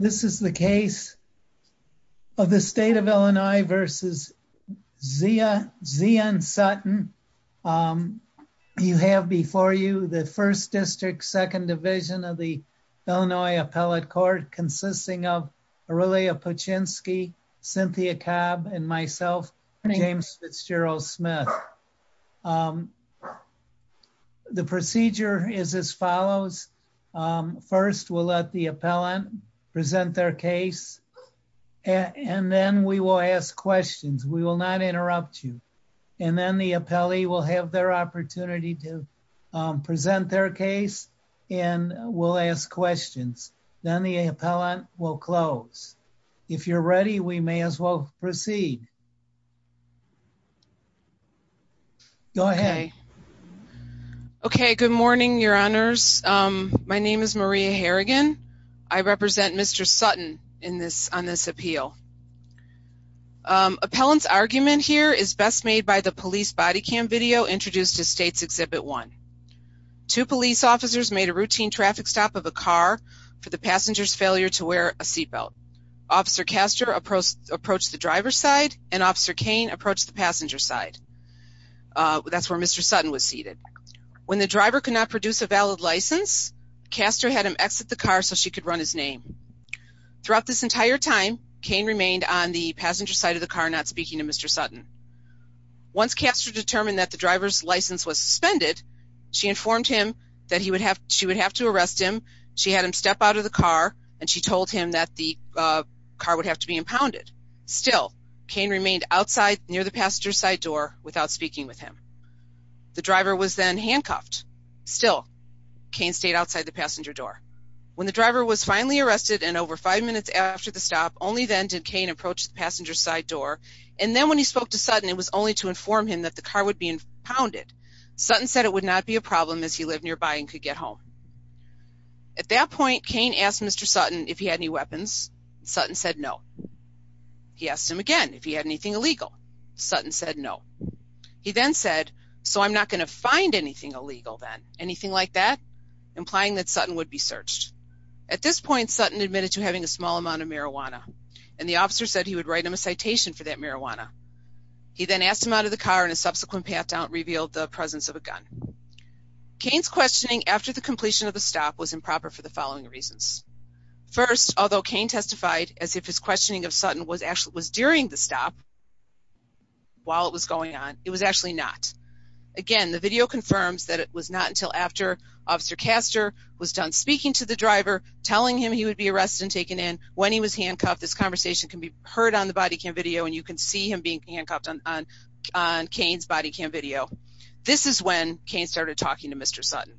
This is the case of the state of Illinois versus Zia and Sutton. You have before you the 1st District, 2nd Division of the Illinois Appellate Court consisting of Aurelia Paczynski, Cynthia Cobb, and myself, James Fitzgerald Smith. The procedure is as follows. First, we'll let the appellant present their case, and then we will ask questions. We will not interrupt you. And then the appellee will have their opportunity to present their case, and we'll ask questions. Then the appellant will close. If you're ready, we may as well proceed. Go ahead. Okay. Good morning, Your Honors. My name is Maria Harrigan. I represent Mr. Sutton on this appeal. Appellant's argument here is best made by the police body cam video introduced to States Exhibit 1. Two police officers made a routine traffic stop of a car for the passenger's failure to wear a seatbelt. Officer Kaster approached the driver's side, and Officer Cain approached the passenger's side. That's where Mr. Sutton was seated. When the driver could not produce a valid license, Kaster had him exit the car so she could run his name. Throughout this entire time, Cain remained on the passenger side of the car not speaking to Mr. Sutton. Once Kaster determined that the driver's license was suspended, she informed him that she would have to arrest him. She had him step out of the car, and she told him that the car would have to be impounded. Still, Cain remained outside near the passenger side door without speaking with him. The driver was then handcuffed. Still, Cain stayed outside the passenger door. When the driver was finally arrested and over five minutes after the stop, only then did Cain approach the passenger side door. And then when he spoke to Sutton, it was only to inform him that the car would be impounded. Sutton said it would not be a problem as he lived nearby and could get home. At that point, Cain asked Mr. Sutton if he had any weapons. Sutton said no. He asked him again if he had anything illegal. Sutton said no. He then said, so I'm not going to find anything illegal then. Anything like that, implying that Sutton would be searched. At this point, Sutton admitted to having a small amount of marijuana, and the officer said he would write him a citation for that marijuana. He then asked him out of the car, and a subsequent path down revealed the presence of a gun. Cain's questioning after the completion of the stop was improper for the following reasons. First, although Cain testified as if his questioning of Sutton was during the stop while it was going on, it was actually not. Again, the video confirms that it was not until after Officer Castor was done speaking to the driver, telling him he would be arrested and taken in, when he was handcuffed. This conversation can be heard on the body cam video, and you can see him being handcuffed on Cain's body cam video. This is when Cain started talking to Mr. Sutton.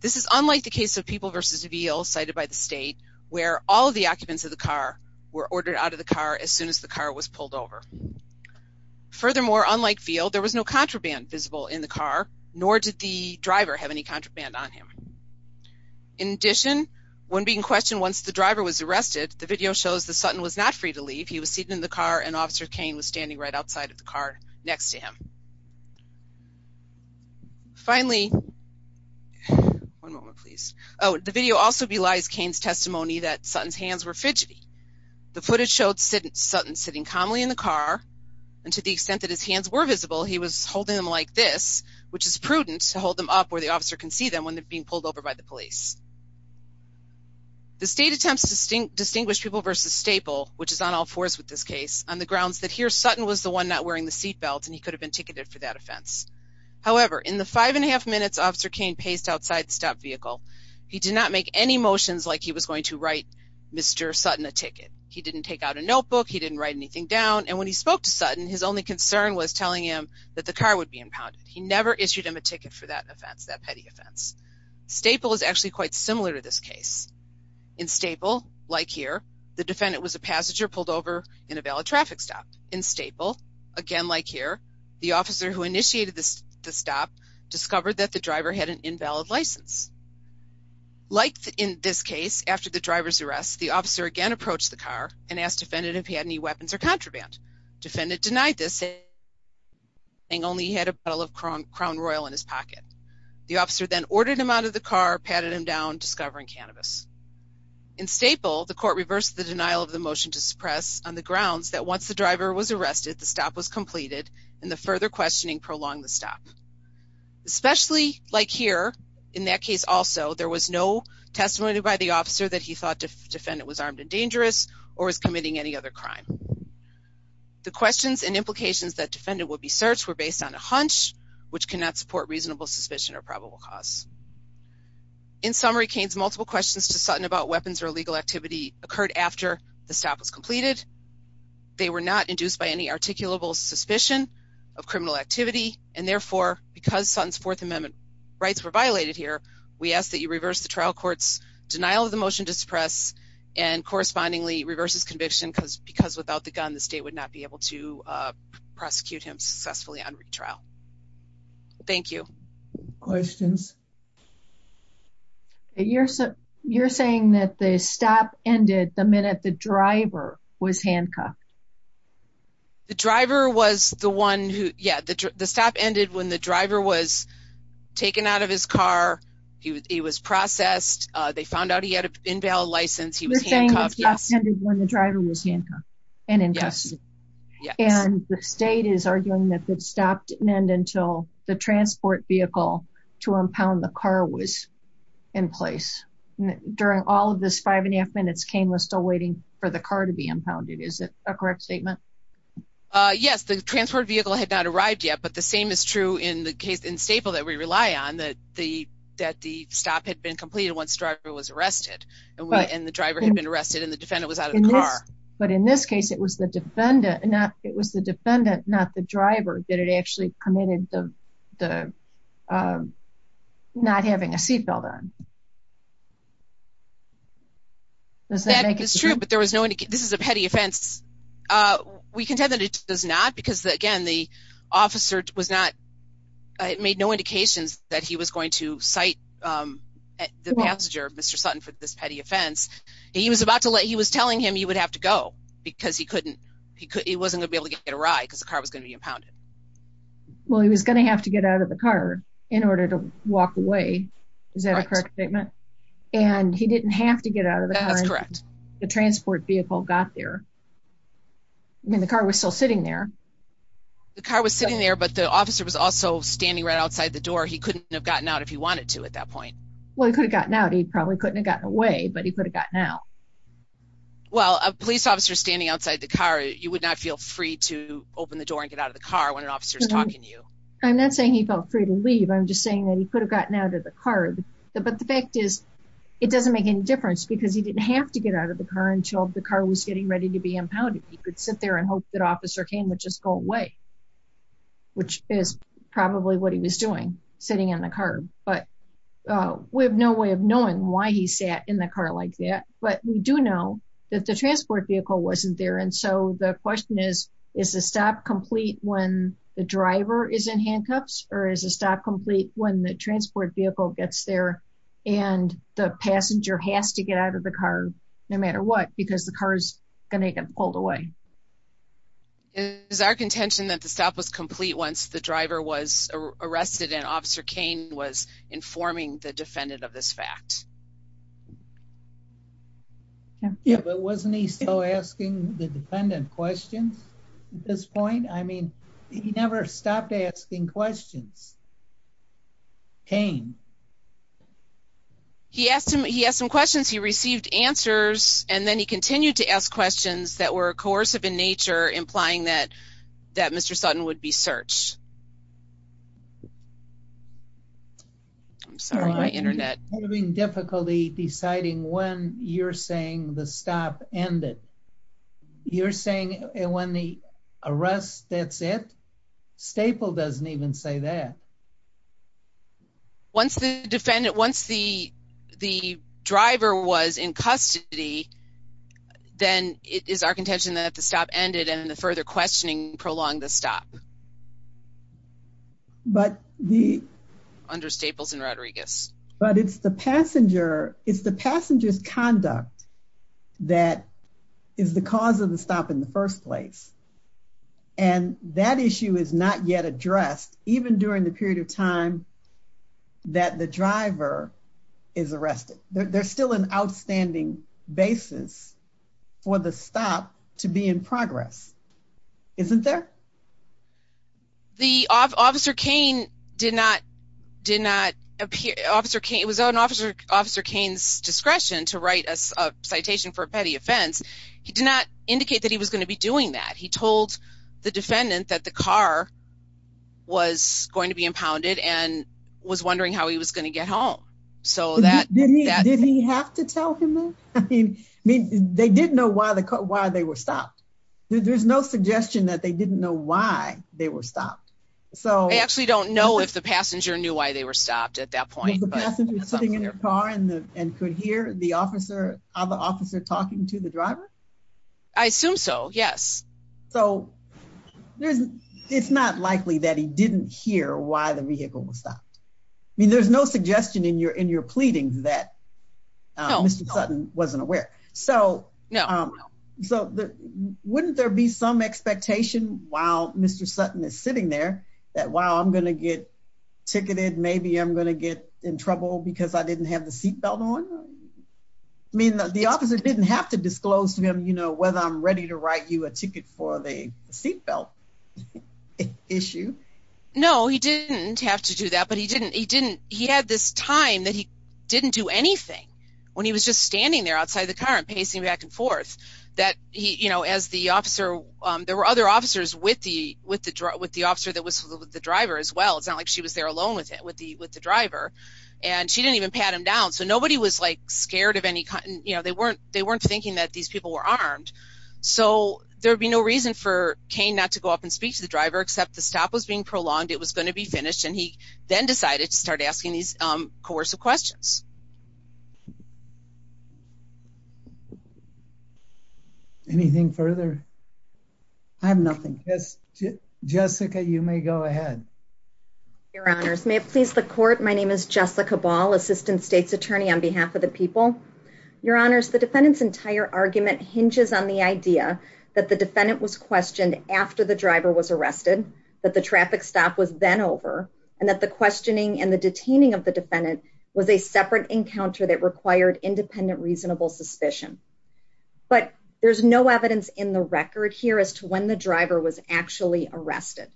This is unlike the case of People v. Veal, cited by the state, where all of the occupants of the car were ordered out of the car as soon as the car was pulled over. Furthermore, unlike Veal, there was no contraband visible in the car, nor did the driver have any contraband on him. In addition, when being questioned once the driver was arrested, the video shows that Sutton was not free to leave. He was seated in the car, and Officer Cain was standing right outside of the car next to him. The video also belies Cain's testimony that Sutton's hands were fidgety. The footage showed Sutton sitting calmly in the car, and to the extent that his hands were visible, he was holding them like this, which is prudent to hold them up where the officer can see them when they're being pulled over by the police. The state attempts to distinguish People v. Staple, which is on all fours with this case, on the grounds that here Sutton was the one not wearing the seat belt, and he could have been ticketed for that offense. However, in the five and a half minutes Officer Cain paced outside the stopped vehicle, he did not make any motions like he was going to write Mr. Sutton a ticket. He didn't take out a notebook. He didn't write anything down, and when he spoke to Sutton, his only concern was telling him that the car would be impounded. He never issued him a ticket for that offense, that petty offense. Staple is actually quite similar to this case. In Staple, like here, the defendant was a passenger pulled over in a valid traffic stop. In Staple, again like here, the officer who initiated this stop discovered that the driver had an invalid license. Like in this case, after the driver's arrest, the officer again approached the car and asked defendant if he had any weapons or contraband. Defendant denied this, saying only he had a bottle of Crown Royal in his pocket. The officer then ordered him out of the car, patted him down, discovering cannabis. In Staple, the court reversed the denial of the motion to suppress on the grounds that once the driver was arrested, the stop was completed, and the further questioning prolonged the stop. Especially like here, in that case also, there was no testimony by the officer that he thought the defendant was armed and dangerous or was committing any other crime. The questions and implications that defendant would be searched were based on a hunch, which cannot support reasonable suspicion or probable cause. In summary, Kane's multiple questions to Sutton about weapons or illegal activity occurred after the stop was completed. They were not induced by any articulable suspicion of criminal activity, and therefore, because Sutton's Fourth Amendment rights were violated here, we ask that you reverse the trial court's denial of the motion to suppress and correspondingly reverse his conviction because without the gun, the state would not be able to prosecute him successfully on retrial. Thank you. Questions? You're saying that the stop ended the minute the driver was handcuffed? The driver was the one who, yeah, the stop ended when the driver was taken out of his car, he was processed, they found out he had an in-vehicle license, he was handcuffed. You're saying the stop ended when the driver was handcuffed and in custody? Yes. And the state is arguing that the stop didn't end until the transport vehicle to impound the car was in place. During all of this five and a half minutes, Kane was still waiting for the car to be impounded. Is that a correct statement? Yes, the transport vehicle had not arrived yet, but the same is true in the case in Staple that we rely on, that the stop had been completed once the driver was arrested and the driver had been arrested and the defendant was out of the car. But in this case, it was the defendant, not the driver, that had actually committed the not having a seat belt on. That is true, but there was no indication, this is a petty offense. We contend that it does not because again, the officer was not, it made no indications that he was going to cite the passenger, Mr. Sutton, for this petty offense. He was about to let, he was telling him he would have to go because he couldn't, he wasn't going to be able to get a ride because the car was going to be impounded. Well, he was going to have to get out of the car in order to walk away. Is that a correct statement? And he didn't have to get out of the car. That's correct. The transport vehicle got there. I mean, the car was still sitting there. The car was sitting there, but the officer was also standing right outside the door. He couldn't have gotten out if he wanted to at that point. Well, he could have gotten out. He probably couldn't have gotten away, but he could have gotten out. Well, a police officer standing outside the car, you would not feel free to open the door and get out of the car when an officer is talking to you. I'm not saying he felt free to leave. I'm just saying that he could have gotten out of the car. But the fact is, it doesn't make any difference because he didn't have to get out of the car until the car was getting ready to be impounded. He could sit there and hope that Officer Kane would just go away, which is probably what he was doing, sitting in the car. But we have no way of knowing why he sat in the car like that. But we do know that the transport vehicle wasn't there. And so the question is, is the stop complete when the driver is in handcuffs, or is the stop complete when the transport vehicle gets there and the passenger has to get out of the car no matter what, because the car is going to get pulled away? Is our contention that the stop was complete once the driver was impounded? Is our contention that the stop was complete when the officer Kane was informing the defendant of this fact? Yeah, but wasn't he still asking the defendant questions? At this point? I mean, he never stopped asking questions. Kane. He asked him, he asked some questions. He received answers, and then he continued to ask questions that were coercive in nature, implying that Mr. Sutton would be searched. I'm sorry, my internet. Having difficulty deciding when you're saying the stop ended. You're saying when the arrest, that's it? Staple doesn't even say that. Once the defendant, once the driver was in custody, then it is our contention that the stop ended and the further questioning prolonged the stop. But the... Under Staples and Rodriguez. But it's the passenger, it's the passenger's conduct that is the cause of the stop in the first place. And that issue is not yet addressed, even during the period of time that the driver is arrested. There's still an outstanding basis for the stop to be in progress, isn't there? The officer Kane did not, did not appear. Officer Kane, it was on Officer Kane's discretion to write a citation for a petty offense. He did not impound it and was wondering how he was going to get home. Did he have to tell him that? I mean, they didn't know why they were stopped. There's no suggestion that they didn't know why they were stopped. I actually don't know if the passenger knew why they were stopped at that point. Was the passenger sitting in the car and could hear the other officer talking to the driver? I assume so, yes. So, it's not likely that he didn't hear why the vehicle was stopped. I mean, there's no suggestion in your pleadings that Mr. Sutton wasn't aware. So, wouldn't there be some expectation while Mr. Sutton is sitting there that, wow, I'm going to get ticketed, maybe I'm going to get in trouble because I didn't have the seatbelt on? I mean, the officer didn't have to disclose to him whether I'm ready to write you a ticket for the seatbelt issue. No, he didn't have to do that, but he didn't. He had this time that he didn't do anything when he was just standing there outside the car and pacing back and forth. There were other officers with the officer that was with the driver as well. It's not like she was there alone with the driver and she didn't pat him down. So, nobody was scared of any kind. They weren't thinking that these people were armed. So, there would be no reason for Kane not to go up and speak to the driver except the stop was being prolonged, it was going to be finished, and he then decided to start asking these coercive questions. Anything further? I have nothing. Jessica, you may go ahead. Your honors, may it on behalf of the people. Your honors, the defendant's entire argument hinges on the idea that the defendant was questioned after the driver was arrested, that the traffic stop was then over, and that the questioning and the detaining of the defendant was a separate encounter that required independent reasonable suspicion. But there's no evidence in the record here as to when the driver was actually arrested.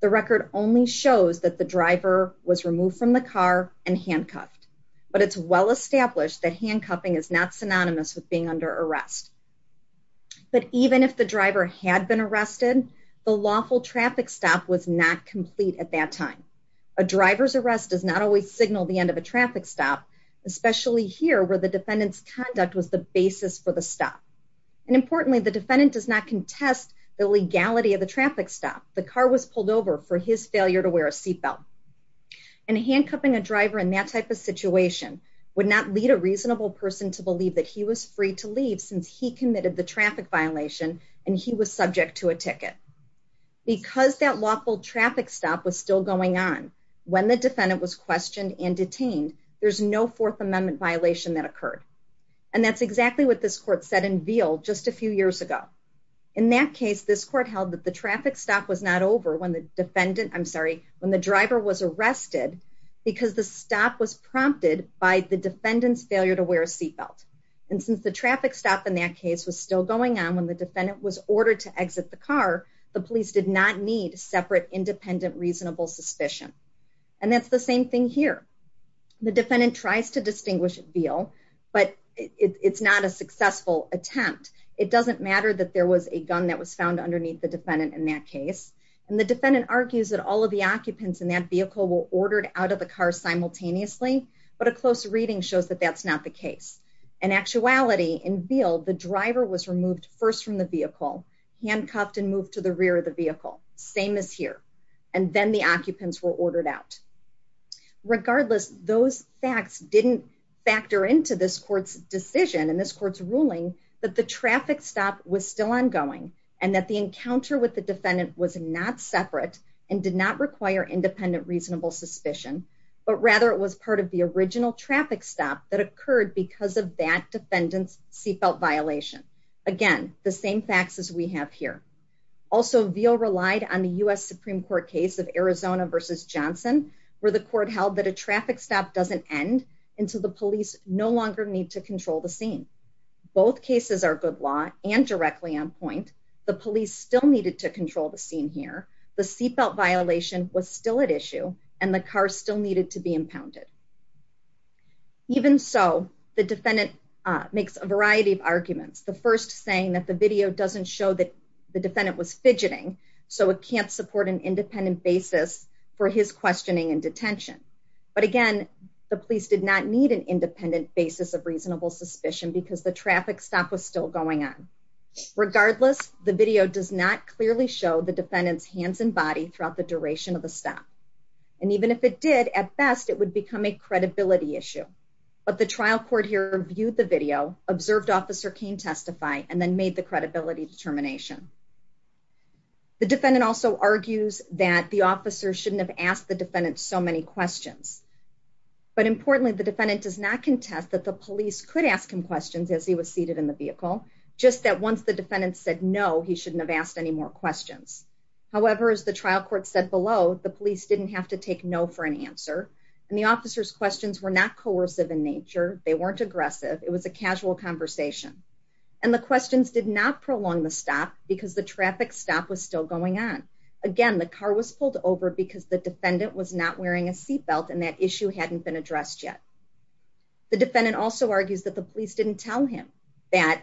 The record only shows that the driver was removed from the car and handcuffed. But it's well established that handcuffing is not synonymous with being under arrest. But even if the driver had been arrested, the lawful traffic stop was not complete at that time. A driver's arrest does not always signal the end of a traffic stop, especially here where the defendant's conduct was the basis for the stop. And importantly, the defendant does not contest the legality of the traffic stop. The car was pulled over for his failure to wear a seatbelt. And handcuffing a driver in that type of situation would not lead a reasonable person to believe that he was free to leave since he committed the traffic violation and he was subject to a ticket. Because that lawful traffic stop was still going on when the defendant was questioned and detained, there's no Fourth Amendment violation that occurred. And that's exactly what this court said in Veal just a few years ago. In that case, this court held that the traffic stop was not over when the driver was arrested because the stop was prompted by the defendant's failure to wear a seatbelt. And since the traffic stop in that case was still going on when the defendant was ordered to exit the car, the police did not need separate, independent, reasonable suspicion. And that's the same thing here. The defendant tries to distinguish Veal, but it's not a successful attempt. It doesn't matter that there was a gun that was found underneath the defendant in that case. And the defendant argues that all of the occupants in that vehicle were ordered out of the car simultaneously, but a close reading shows that that's not the case. In actuality, in Veal, the driver was removed first from the vehicle, handcuffed, and moved to the rear of the vehicle. Same as here. And then the occupants were ordered out. Regardless, those facts didn't factor into this court's decision and this court's ruling that the traffic stop was still ongoing and that the encounter with the defendant was not separate and did not require independent, reasonable suspicion, but rather it was part of the original traffic stop that occurred because of that defendant's seatbelt violation. Again, the same facts as we have here. Also, Veal relied on the U.S. Supreme Court case of Arizona versus Johnson, where the court held that a traffic stop doesn't end until the police no longer need to law and directly on point. The police still needed to control the scene here. The seatbelt violation was still at issue and the car still needed to be impounded. Even so, the defendant makes a variety of arguments. The first saying that the video doesn't show that the defendant was fidgeting, so it can't support an independent basis for his questioning and detention. But again, the police did not need an independent basis of reasonable suspicion because the traffic stop was still going on. Regardless, the video does not clearly show the defendant's hands and body throughout the duration of the stop. And even if it did, at best, it would become a credibility issue. But the trial court here reviewed the video, observed Officer Cain testify, and then made the credibility determination. The defendant also argues that the officer shouldn't have asked the defendant so many questions. But importantly, the defendant does not contest that the police could ask him questions as he was seated in the vehicle, just that once the defendant said no, he shouldn't have asked any more questions. However, as the trial court said below, the police didn't have to take no for an answer. And the officer's questions were not coercive in nature. They weren't aggressive. It was a casual conversation. And the questions did not prolong the stop because the traffic stop was still going on. Again, the car was pulled over because the defendant was not wearing a seatbelt and that issue hadn't been addressed yet. The defendant also argues that the police didn't tell him that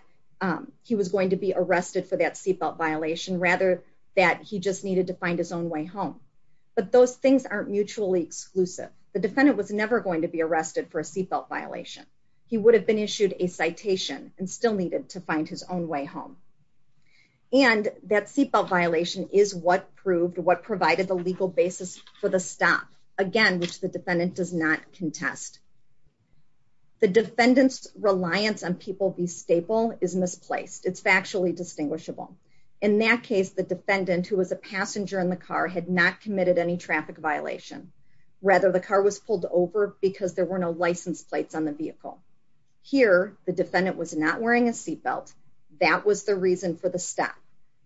he was going to be arrested for that seatbelt violation rather that he just needed to find his own way home. But those things aren't mutually exclusive. The defendant was never going to be arrested for a seatbelt violation. He would have been issued a citation and still needed to is what proved what provided the legal basis for the stop again, which the defendant does not contest. The defendant's reliance on people be staple is misplaced. It's factually distinguishable. In that case, the defendant who was a passenger in the car had not committed any traffic violation. Rather, the car was pulled over because there were no license plates on the vehicle. Here, the defendant was not wearing a seatbelt. That was the reason for the stop.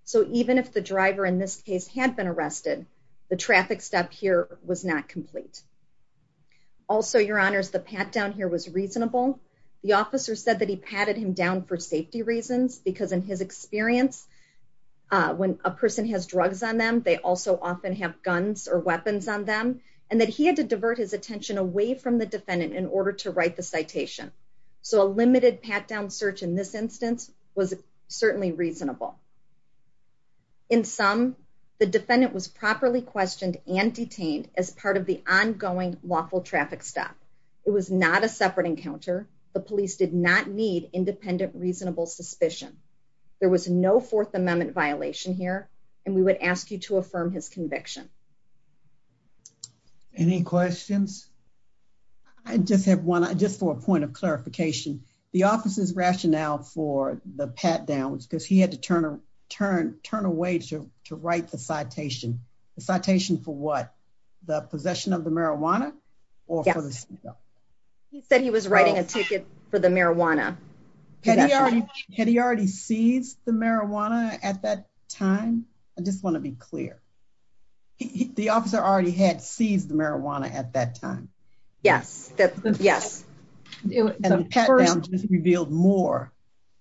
So even if the driver in this case had been arrested, the traffic stop here was not complete. Also, your honors, the pat down here was reasonable. The officer said that he patted him down for safety reasons because in his experience, when a person has drugs on them, they also often have guns or weapons on them and that he had to divert his attention away from the defendant in order to write the citation. So a limited pat down search in this instance was certainly reasonable. In some, the defendant was properly questioned and detained as part of the ongoing lawful traffic stop. It was not a separate encounter. The police did not need independent, reasonable suspicion. There was no Fourth Amendment violation here, and we would ask you to affirm his conviction. Any questions? I just have one just for a point of clarification. The office's rationale for the pat down was because he had to turn away to write the citation. The citation for what? The possession of the marijuana or for the seatbelt? He said he was writing a ticket for the marijuana. Had he already seized the marijuana at that time? I just want to be clear. The officer already had seized the marijuana at that time. Yes, yes. And the pat down just revealed more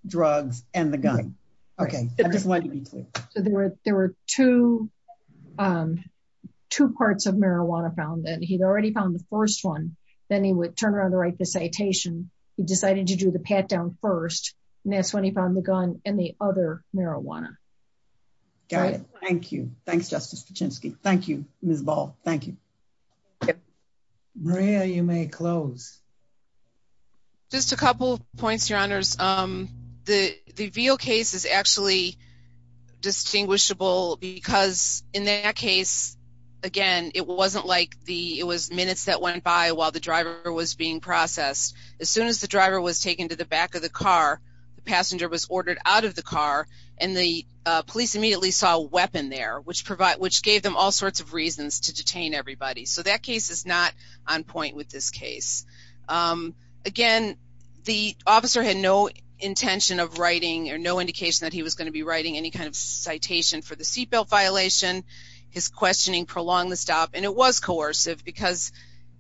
drugs and the gun. Okay, I just want to be clear. So there were two parts of marijuana found that he'd already found the first one. Then he would turn around to write the citation. He decided to do the pat down first, and that's when he found the gun and the other marijuana. Got it. Thank you. Thanks, Justice Kaczynski. Thank you, Ms. Ball. Thank you. Maria, you may close. Just a couple of points, Your Honors. The Veal case is actually distinguishable because in that case, again, it wasn't like it was minutes that went by while the driver was being processed. As soon as the driver was taken to the back of the car, the passenger was ordered out of the car, and the police immediately saw a weapon there, which gave them all sorts of reasons to Again, the officer had no intention of writing or no indication that he was going to be writing any kind of citation for the seat belt violation. His questioning prolonged the stop, and it was coercive because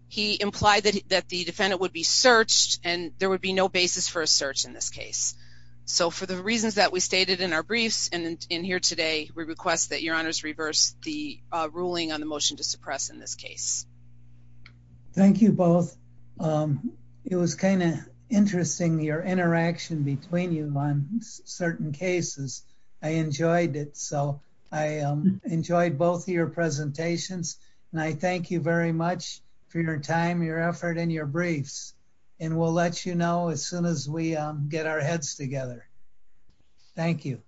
he implied that the defendant would be searched, and there would be no basis for a search in this case. So for the reasons that we stated in our briefs and in here today, we request that Your Honors reverse the ruling on the motion to suppress in this case. Thank you both. It was kind of interesting, your interaction between you on certain cases. I enjoyed it. So I enjoyed both of your presentations, and I thank you very much for your time, your effort, and your briefs. And we'll let you know as soon as we get our heads together. Thank you.